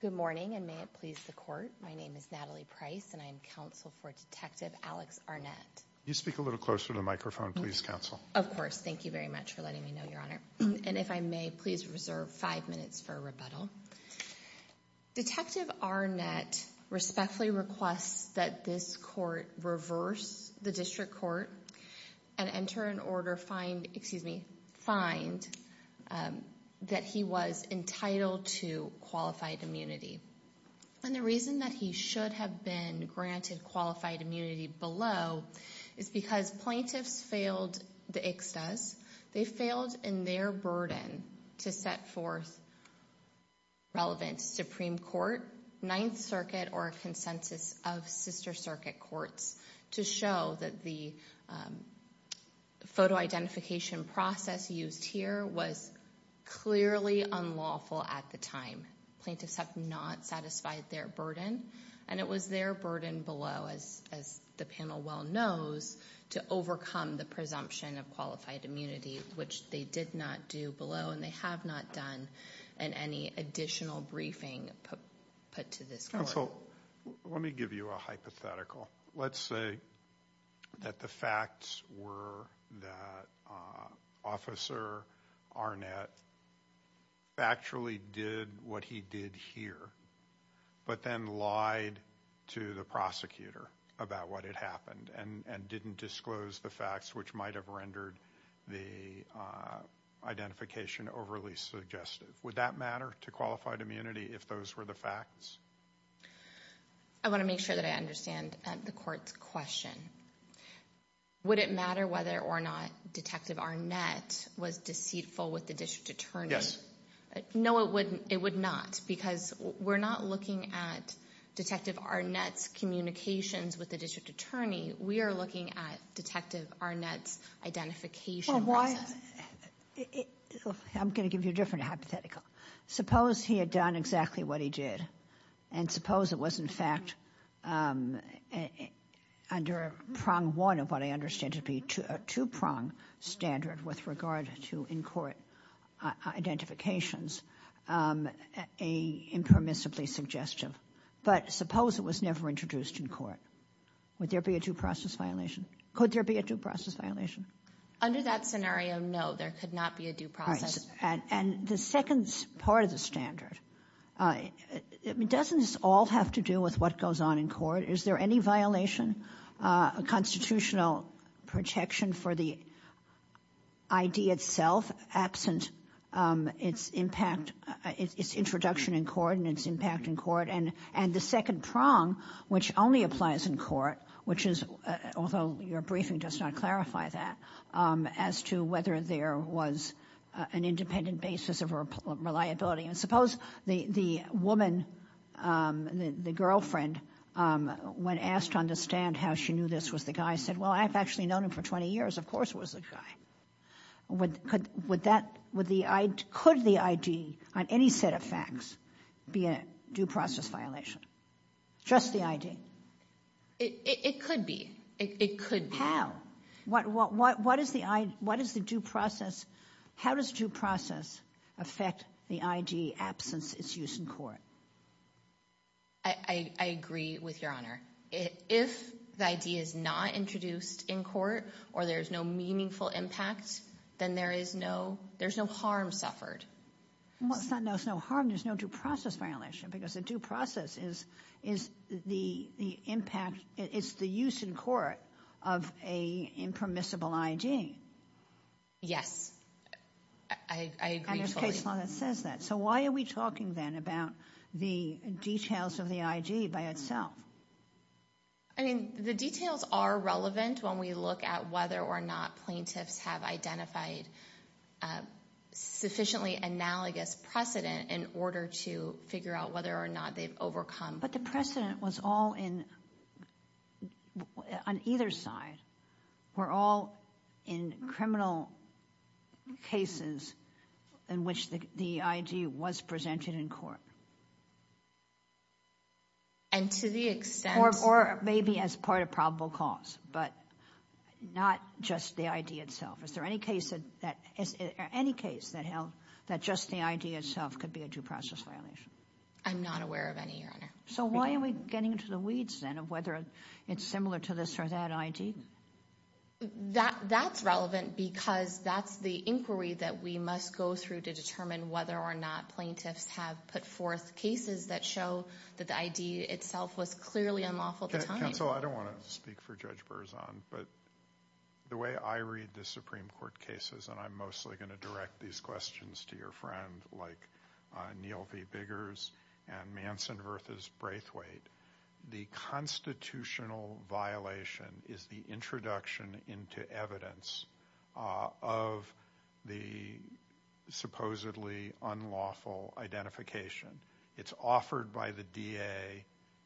Good morning, and may it please the Court, my name is Natalie Price, and I am counsel for Detective Alex Arnett. Can you speak a little closer to the microphone, please, Counsel? Of course. Thank you very much for letting me know, Your Honor. And if I may, please reserve five minutes for rebuttal. Detective Arnett respectfully requests that this Court reverse the District Court and enter an order, find, excuse me, find that he was entitled to qualified immunity. And the reason that he should have been granted qualified immunity below is because plaintiffs failed the Ixtas, they failed in their burden to set forth relevant Supreme Court, Ninth Circuit or a consensus of Sister Circuit Courts to show that the photo identification process used here was clearly unlawful at the time. Plaintiffs have not satisfied their burden, and it was their burden below, as the panel well knows, to overcome the presumption of qualified immunity, which they did not do below and they have not done in any additional briefing put to this Court. Counsel, let me give you a hypothetical. Let's say that the facts were that Officer Arnett actually did what he did here, but then lied to the prosecutor about what had happened and didn't disclose the facts, which might have rendered the identification overly suggestive. Would that matter to qualified immunity if those were the facts? I want to make sure that I understand the Court's question. Would it matter whether or not Detective Arnett was deceitful with the District Attorney? Yes. No, it would not, because we're not looking at Detective Arnett's communications with the District Attorney. We are looking at Detective Arnett's identification process. I'm going to give you a different hypothetical. Suppose he had done exactly what he did, and suppose it was, in fact, under a prong one of what I understand to be a two-prong standard with regard to in-court identifications, impermissibly suggestive, but suppose it was never introduced in court. Would there be a due process violation? Could there be a due process violation? Under that scenario, no, there could not be a due process. And the second part of the standard, doesn't this all have to do with what goes on in court? Is there any violation of constitutional protection for the ID itself absent its impact, its introduction in court and its impact in court? And the second prong, which only applies in court, which is, although your briefing does not clarify that, as to whether there was an independent basis of reliability. And suppose the woman, the girlfriend, when asked to understand how she knew this was the guy, said, well, I've actually known him for 20 years, of course it was the guy. Would that, would the ID, could the ID on any set of facts be a due process violation? Just the ID? It could be. It could be. How? What is the, what is the due process, how does due process affect the ID absence its use in court? I agree with Your Honor. If the ID is not introduced in court, or there is no meaningful impact, then there is no, there's no harm suffered. Well, it's not no harm, there's no due process violation, because a due process is the impact, it's the use in court of a impermissible ID. Yes. I agree totally. And there's a case law that says that. So why are we talking then about the details of the ID by itself? I mean, the details are relevant when we look at whether or not plaintiffs have identified sufficiently analogous precedent in order to figure out whether or not they've overcome. But the precedent was all in, on either side, were all in criminal cases in which the ID was presented in court. And to the extent. Or maybe as part of probable cause, but not just the ID itself. Is there any case that, any case that held that just the ID itself could be a due process violation? I'm not aware of any, Your Honor. So why are we getting into the weeds then of whether it's similar to this or that ID? That's relevant because that's the inquiry that we must go through to determine whether or not plaintiffs have put forth cases that show that the ID itself was clearly unlawful to time. Counsel, I don't want to speak for Judge Berzon, but the way I read the Supreme Court cases, and I'm mostly going to direct these questions to your friend, like Neil V. Biggers and Manson versus Braithwaite. The constitutional violation is the introduction into evidence of the supposedly unlawful identification. It's offered by the DA.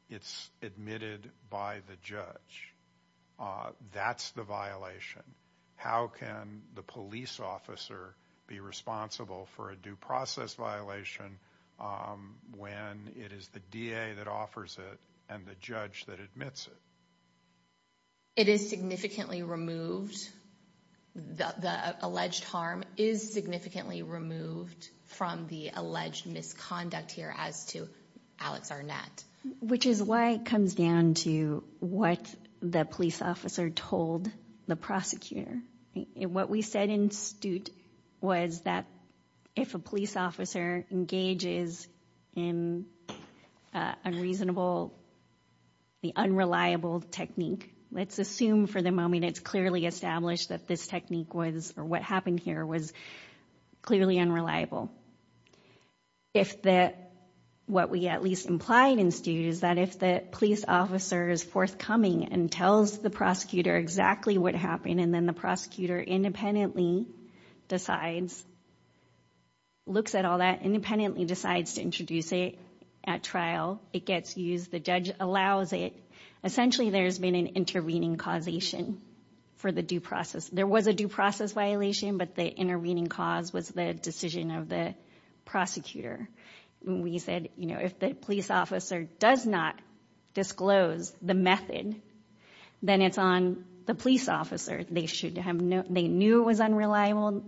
It's admitted by the judge. That's the violation. How can the police officer be responsible for a due process violation when it is the DA that offers it and the judge that admits it? It is significantly removed. The alleged harm is significantly removed from the alleged misconduct here as to Alex Arnett. Which is why it comes down to what the police officer told the prosecutor. What we said in Stute was that if a police officer engages in unreasonable, the unreliable technique, let's assume for the moment it's clearly established that this technique was, or what happened here was clearly unreliable. If that, what we at least implied in Stute is that if the police officer is forthcoming and tells the prosecutor exactly what happened and then the prosecutor independently decides, looks at all that, independently decides to introduce it at trial, it gets used, the judge allows it, essentially there's been an intervening causation for the due process. There was a due process violation, but the intervening cause was the decision of the prosecutor. We said, you know, if the police officer does not disclose the method, then it's on the police officer. They should have, they knew it was unreliable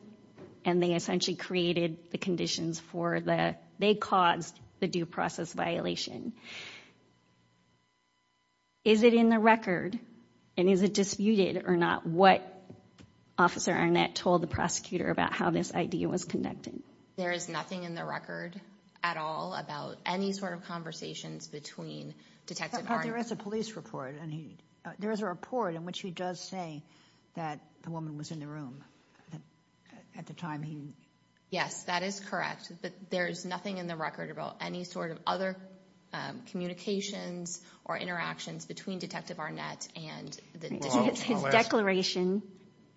and they essentially created the conditions for the, they caused the due process violation. Is it in the record and is it disputed or not what Officer Arnett told the prosecutor about how this idea was conducted? There is nothing in the record at all about any sort of conversations between Detective Arnett. But there is a police report and he, there is a report in which he does say that the woman was in the room at the time he. Yes, that is correct, but there is nothing in the record about any sort of other communications or interactions between Detective Arnett and the. His declaration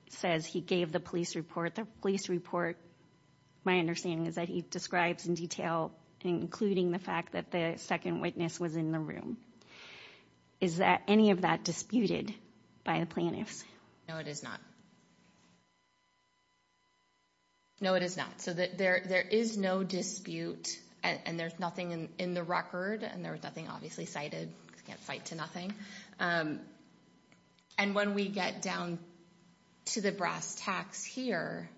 says he gave the police report. The police report, my understanding is that he describes in detail, including the fact that the second witness was in the room. Is that any of that disputed by the plaintiffs? No, it is not. No, it is not so that there there is no dispute and there's nothing in the record and there was nothing obviously cited can't fight to nothing. And when we get down to the brass tacks here,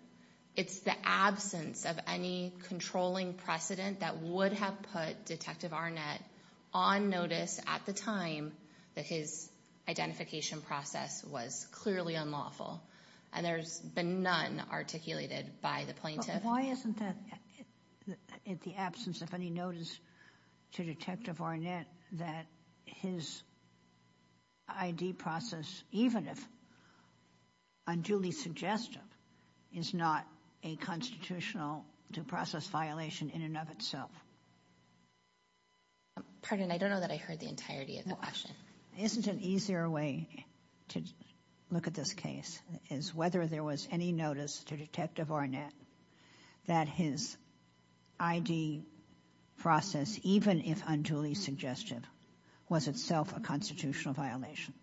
it's the absence of any controlling precedent that would have put Detective Arnett on notice at the time that his identification process was clearly unlawful. And there's been none articulated by the plaintiff. Why isn't that in the absence of any notice to Detective Arnett that his ID process, even if unduly suggestive, is not a constitutional due process violation in and of itself? Pardon, I don't know that I heard the entirety of the question. Isn't an easier way to look at this case is whether there was any notice to Detective Arnett that his ID process, even if unduly suggestive, was itself a constitutional violation.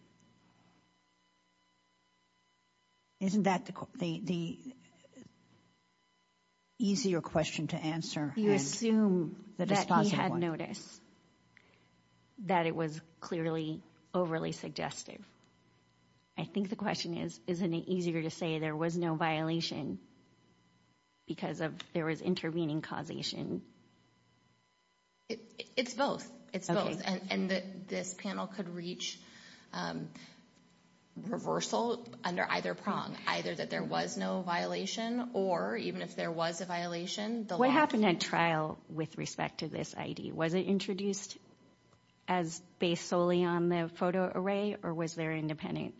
Isn't that the easier question to answer? You assume that he had notice that it was clearly overly suggestive. I think the question is, isn't it easier to say there was no violation because of there was intervening causation? It's both. It's both. And this panel could reach reversal under either prong, either that there was no violation or even if there was a violation. What happened at trial with respect to this ID? Was it introduced as based solely on the photo array or was there independent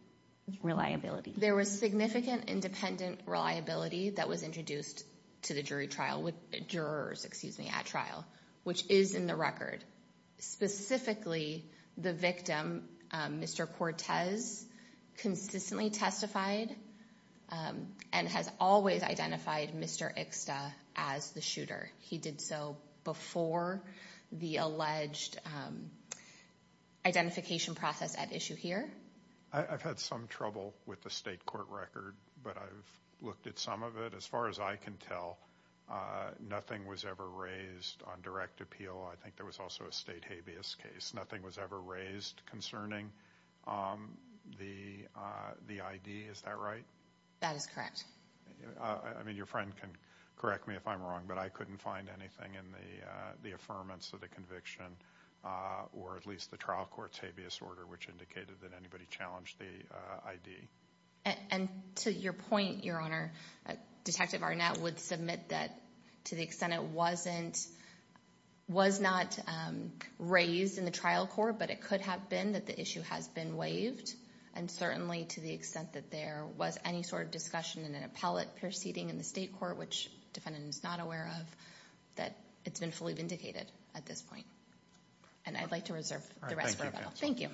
reliability? There was significant independent reliability that was introduced to the jury trial with jurors, excuse me, at trial, which is in the record. Specifically, the victim, Mr. Cortez, consistently testified and has always identified Mr. Ixta as the shooter. He did so before the alleged identification process at issue here. I've had some trouble with the state court record, but I've looked at some of it. As far as I can tell, nothing was ever raised on direct appeal. I think there was also a state habeas case. Nothing was ever raised concerning the ID. Is that right? That is correct. I mean, your friend can correct me if I'm wrong, but I couldn't find anything in the affirmance of the conviction or at least the trial court's habeas order, which indicated that anybody challenged the ID. And to your point, Your Honor, Detective Barnett would submit that to the extent it wasn't was not raised in the trial court, but it could have been that the issue has been waived. And certainly, to the extent that there was any sort of discussion in an appellate proceeding in the state court, which the defendant is not aware of, that it's been fully vindicated at this point. And I'd like to reserve the rest for the panel. Thank you.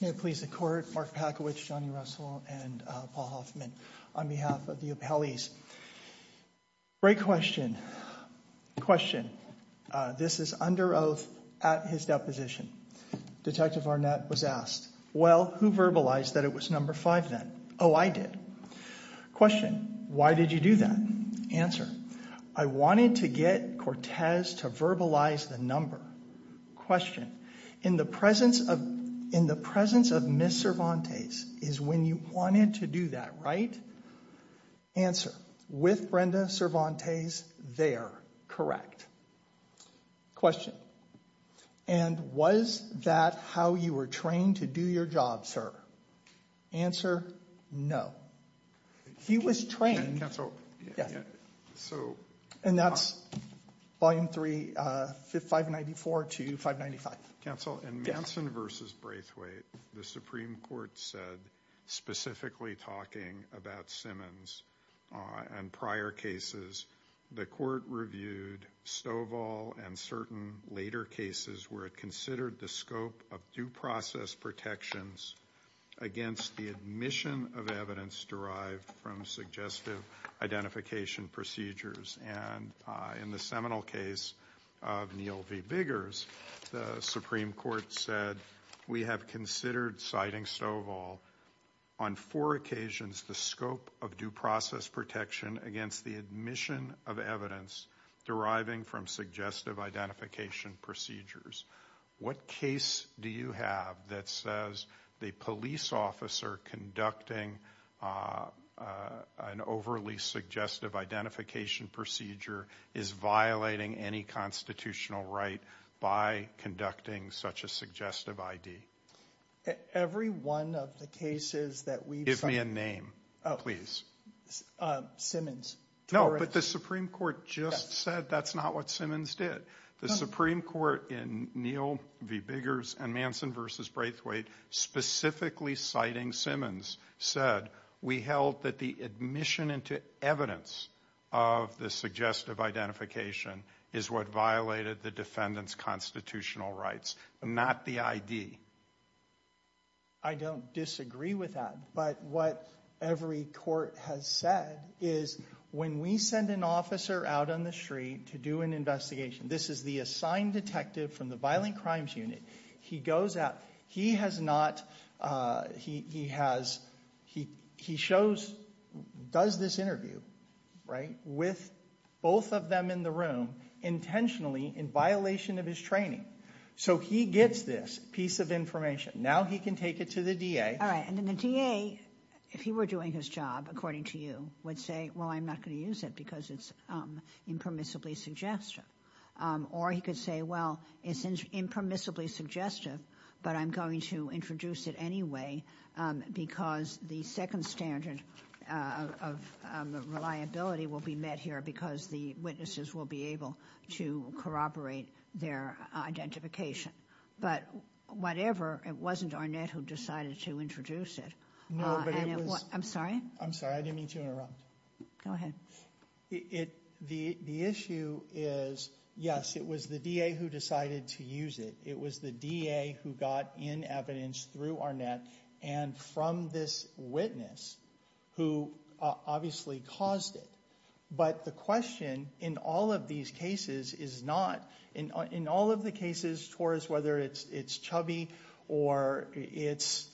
May it please the Court, Mark Packowitz, Johnny Russell, and Paul Hoffman, on behalf of the appellees. Great question, question. This is under oath at his deposition. Detective Barnett was asked, well, who verbalized that it was number five then? Oh, I did. Question, why did you do that? Answer, I wanted to get Cortez to verbalize the number. Question, in the presence of Ms. Cervantes is when you wanted to do that, right? Answer, with Brenda Cervantes there, correct. Question, and was that how you were trained to do your job, sir? Answer, no. He was trained, and that's Volume 3, 594 to 595. Counsel, in Manson v. Braithwaite, the Supreme Court said, specifically talking about Simmons and prior cases, the Court reviewed Stovall and certain later cases where it considered the scope of due process protections against the admission of evidence derived from suggestive identification procedures. And in the seminal case of Neal v. Biggers, the Supreme Court said, we have considered citing Stovall, on four occasions, the scope of due process protection against the admission of evidence deriving from suggestive identification procedures. What case do you have that says the police officer conducting an overly suggestive identification procedure is violating any constitutional right by conducting such a suggestive ID? Every one of the cases that we've cited. Give me a name, please. Simmons. No, but the Supreme Court just said that's not what Simmons did. The Supreme Court in Neal v. Biggers and Manson v. Braithwaite, specifically citing Simmons, said, we held that the admission into evidence of the suggestive identification is what violated the defendant's constitutional rights, not the ID. I don't disagree with that, but what every court has said is, when we send an officer out on the street to do an investigation, this is the assigned detective from the violent He shows, does this interview, right, with both of them in the room intentionally in violation of his training. So he gets this piece of information. Now he can take it to the DA. All right, and then the DA, if he were doing his job, according to you, would say, well, I'm not going to use it because it's impermissibly suggestive. Or he could say, well, it's impermissibly suggestive, but I'm going to introduce it anyway, because the second standard of reliability will be met here, because the witnesses will be able to corroborate their identification. But whatever, it wasn't Arnett who decided to introduce it. No, but it was- I'm sorry? I'm sorry, I didn't mean to interrupt. Go ahead. The issue is, yes, it was the DA who decided to use it. It was the DA who got in evidence through Arnett and from this witness who obviously caused it. But the question in all of these cases is not, in all of the cases towards whether it's Chubby or it's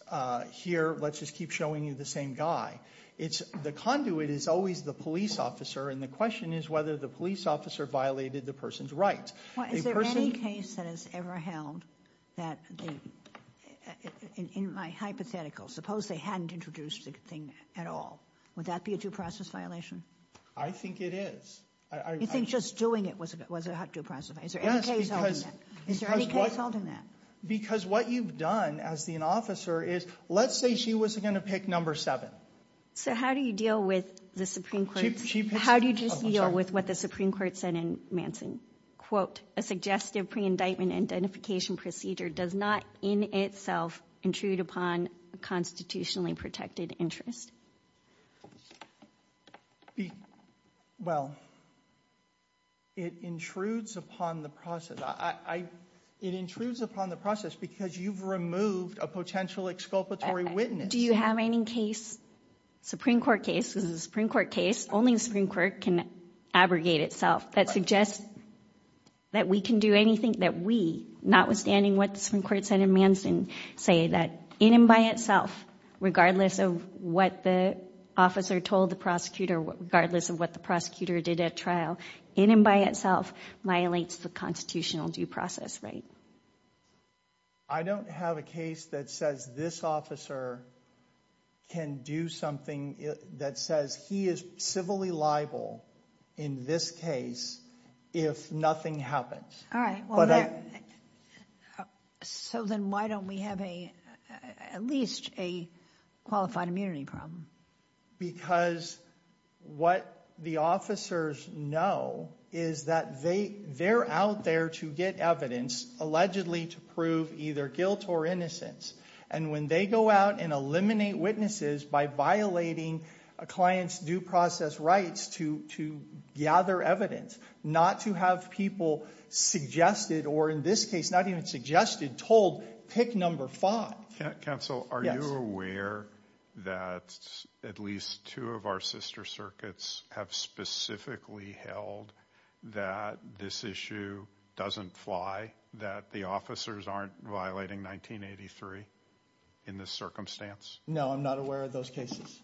here, let's just keep showing you the same guy. The conduit is always the police officer, and the question is whether the police officer violated the person's rights. Is there any case that has ever held that, in my hypothetical, suppose they hadn't introduced the thing at all, would that be a due process violation? I think it is. You think just doing it was a due process violation? Is there any case holding that? Is there any case holding that? Because what you've done as an officer is, let's say she wasn't going to pick number seven. So how do you deal with the Supreme Court's- She picks- How do you just deal with what the Supreme Court said in Manson? Quote, a suggestive pre-indictment identification procedure does not in itself intrude upon a constitutionally protected interest. Well, it intrudes upon the process. It intrudes upon the process because you've removed a potential exculpatory witness. Do you have any case, Supreme Court case, this is a Supreme Court case, only the Supreme Court can abrogate itself, that suggests that we can do anything, that we, notwithstanding what the Supreme Court said in Manson, say that in and by itself, regardless of what the officer told the prosecutor, regardless of what the prosecutor did at trial, in and by itself, violates the constitutional due process, right? I don't have a case that says this officer can do something that says he is civilly liable in this case if nothing happens. All right. Well, so then why don't we have a, at least a qualified immunity problem? Because what the officers know is that they, they're out there to get evidence, allegedly to prove either guilt or innocence. And when they go out and eliminate witnesses by violating a client's due process rights to gather evidence, not to have people suggested, or in this case, not even suggested, told pick number five. Counsel, are you aware that at least two of our sister circuits have specifically held that this issue doesn't fly, that the officers aren't violating 1983? In this circumstance? No, I'm not aware of those cases.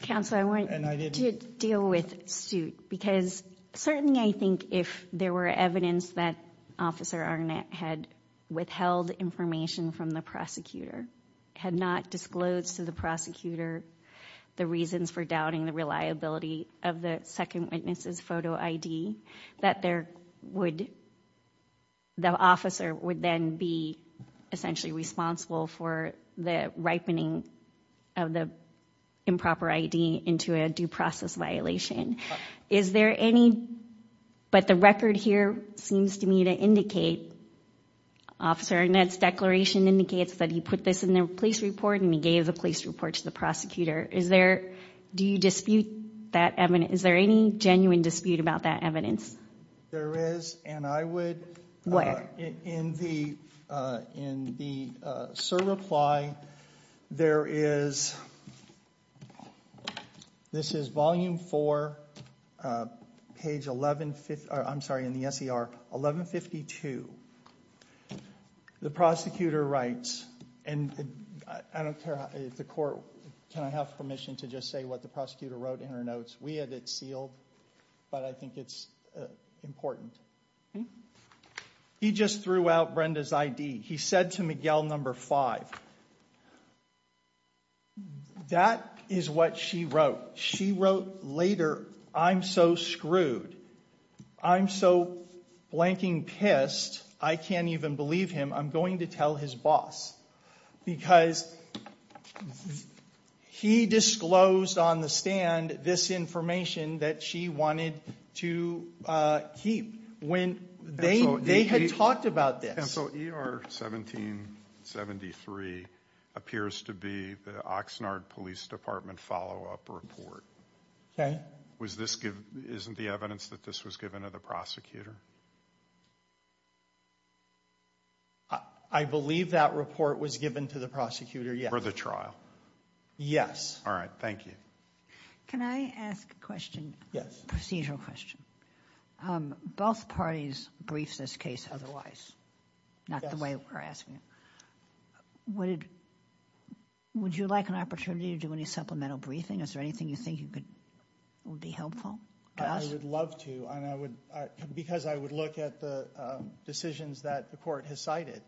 Counsel, I want to deal with suit, because certainly I think if there were evidence that Officer Arnett had withheld information from the prosecutor, had not disclosed to the prosecutor the reasons for doubting the reliability of the second witness's photo ID, that there would, the officer would then be essentially responsible for the ripening of the improper ID into a due process violation. Is there any, but the record here seems to me to indicate, Officer Arnett's declaration indicates that he put this in the police report and he gave the police report to the prosecutor. Is there, do you dispute that evidence? Is there any genuine dispute about that evidence? There is. And I would. What? In the, in the SIR reply, there is, this is volume four, page 11, I'm sorry, in the SER, 1152. The prosecutor writes, and I don't care if the court, can I have permission to just say what the prosecutor wrote in her notes? We had it sealed, but I think it's important. He just threw out Brenda's ID. He said to Miguel number five, that is what she wrote. She wrote later, I'm so screwed. I'm so blanking pissed, I can't even believe him. I'm going to tell his boss, because he disclosed on the stand this information that she wanted to keep when they had talked about this. And so ER 1773 appears to be the Oxnard Police Department follow-up report. Okay. Was this, isn't the evidence that this was given to the prosecutor? I believe that report was given to the prosecutor, yes. For the trial. Yes. All right. Thank you. Can I ask a question? Yes. Procedural question. Both parties briefed this case otherwise, not the way we're asking it. Would it, would you like an opportunity to do any supplemental briefing? Is there anything you think you could, would be helpful to us? I would love to. And I would, because I'm a lawyer, I would love to do that. But I would look at the decisions that the court has cited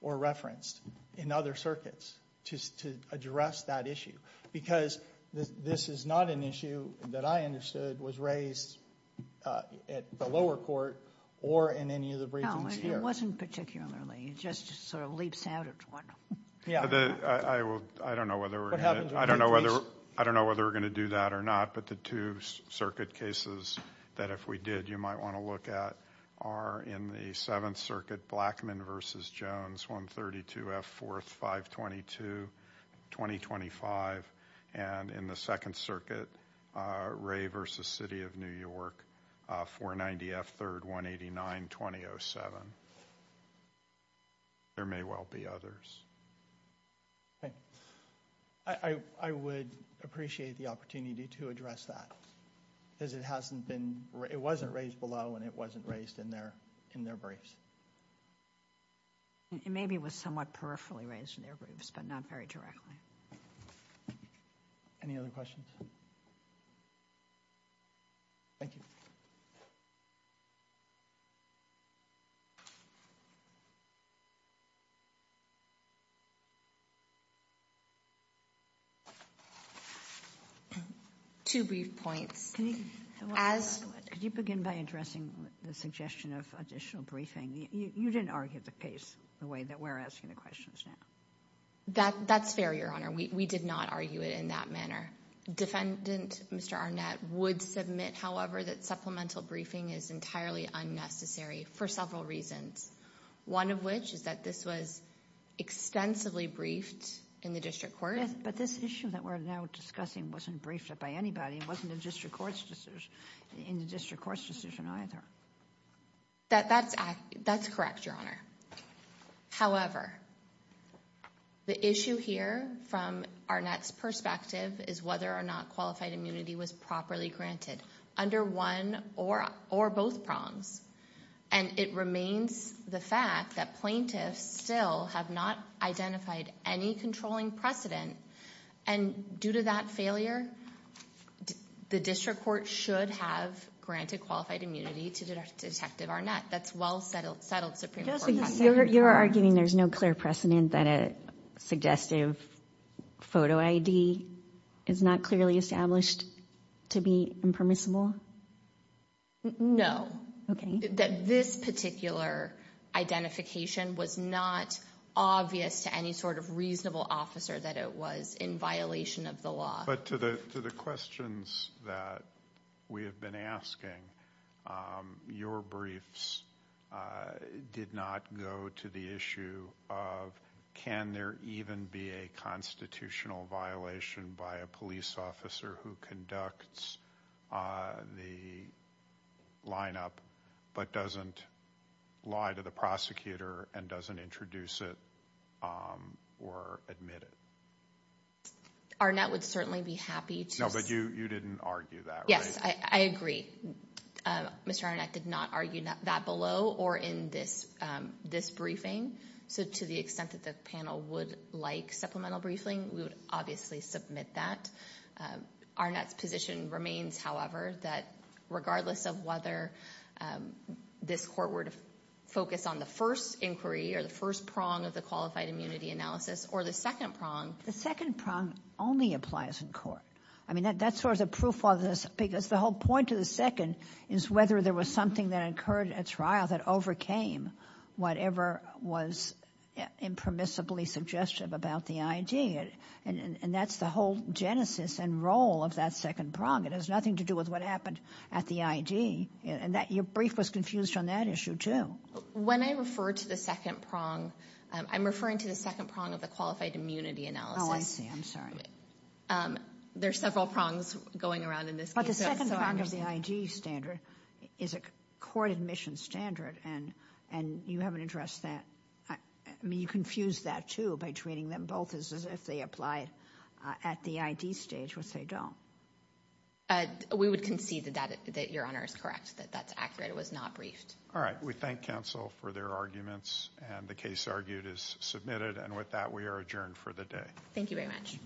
or referenced in other circuits to address that issue. Because this is not an issue that I understood was raised at the lower court or in any of the briefings here. No, it wasn't particularly, it just sort of leaps out at one. Yeah, the, I will, I don't know whether we're going to, I don't know whether we're going to do that or not. But the two circuit cases that if we did, you might want to look at are in the Seventh Circuit, Blackman v. Jones, 132F, 4th, 522, 2025, and in the Second Circuit, Ray v. City of New York, 490F, 3rd, 189, 2007. There may well be others. Okay, I would appreciate the opportunity to address that. Because it hasn't been, it wasn't raised below, and it wasn't raised in their briefs. It maybe was somewhat peripherally raised in their briefs, but not very directly. Any other questions? Thank you. Two brief points. Can you begin by addressing the suggestion of additional briefing? You didn't argue the case the way that we're asking the questions now. That's fair, Your Honor. We did not argue it in that manner. Defendant Mr. Arnett would submit, however, that supplemental briefing is entirely unnecessary for several reasons. One of which is that this was extensively briefed in the district court. But this issue that we're now discussing wasn't briefed by anybody. It wasn't in the district court's decision either. That's correct, Your Honor. However, the issue here from Arnett's perspective is whether or not qualified immunity was properly granted under one or both prongs. And it remains the fact that plaintiffs still have not identified any controlling precedent. And due to that failure, the district court should have granted qualified immunity to Detective Arnett, that's well settled Supreme Court precedent. You're arguing there's no clear precedent that a suggestive photo ID is not clearly established to be impermissible? No. That this particular identification was not obvious to any sort of reasonable officer that it was in violation of the law. But to the questions that we have been asking, your briefs did not go to the issue of, can there even be a constitutional violation by a police officer who conducts the lineup but doesn't lie to the prosecutor and doesn't introduce it or admit it? Arnett would certainly be happy to- No, but you didn't argue that, right? Yes, I agree. Mr. Arnett did not argue that below or in this briefing. So to the extent that the panel would like supplemental briefing, we would obviously submit that. Arnett's position remains, however, that regardless of whether this court were to focus on the first inquiry or the first prong of the qualified immunity analysis or the second prong- The second prong only applies in court. I mean, that's sort of the proof of this because the whole point of the second is whether there was something that occurred at trial that overcame whatever was impermissibly suggestive about the ID. And that's the whole genesis and role of that second prong. It has nothing to do with what happened at the ID. And your brief was confused on that issue too. When I refer to the second prong, I'm referring to the second prong of the qualified immunity analysis. Oh, I see. I'm sorry. There's several prongs going around in this case. But the second prong of the ID standard is a court admission standard and you haven't addressed that. I mean, you confuse that too by treating them both as if they applied at the ID stage, which they don't. We would concede that your honor is correct, that that's accurate. It was not briefed. All right. We thank counsel for their arguments. And the case argued is submitted. And with that, we are adjourned for the day. Thank you very much. It's Services Section 10 adjourned.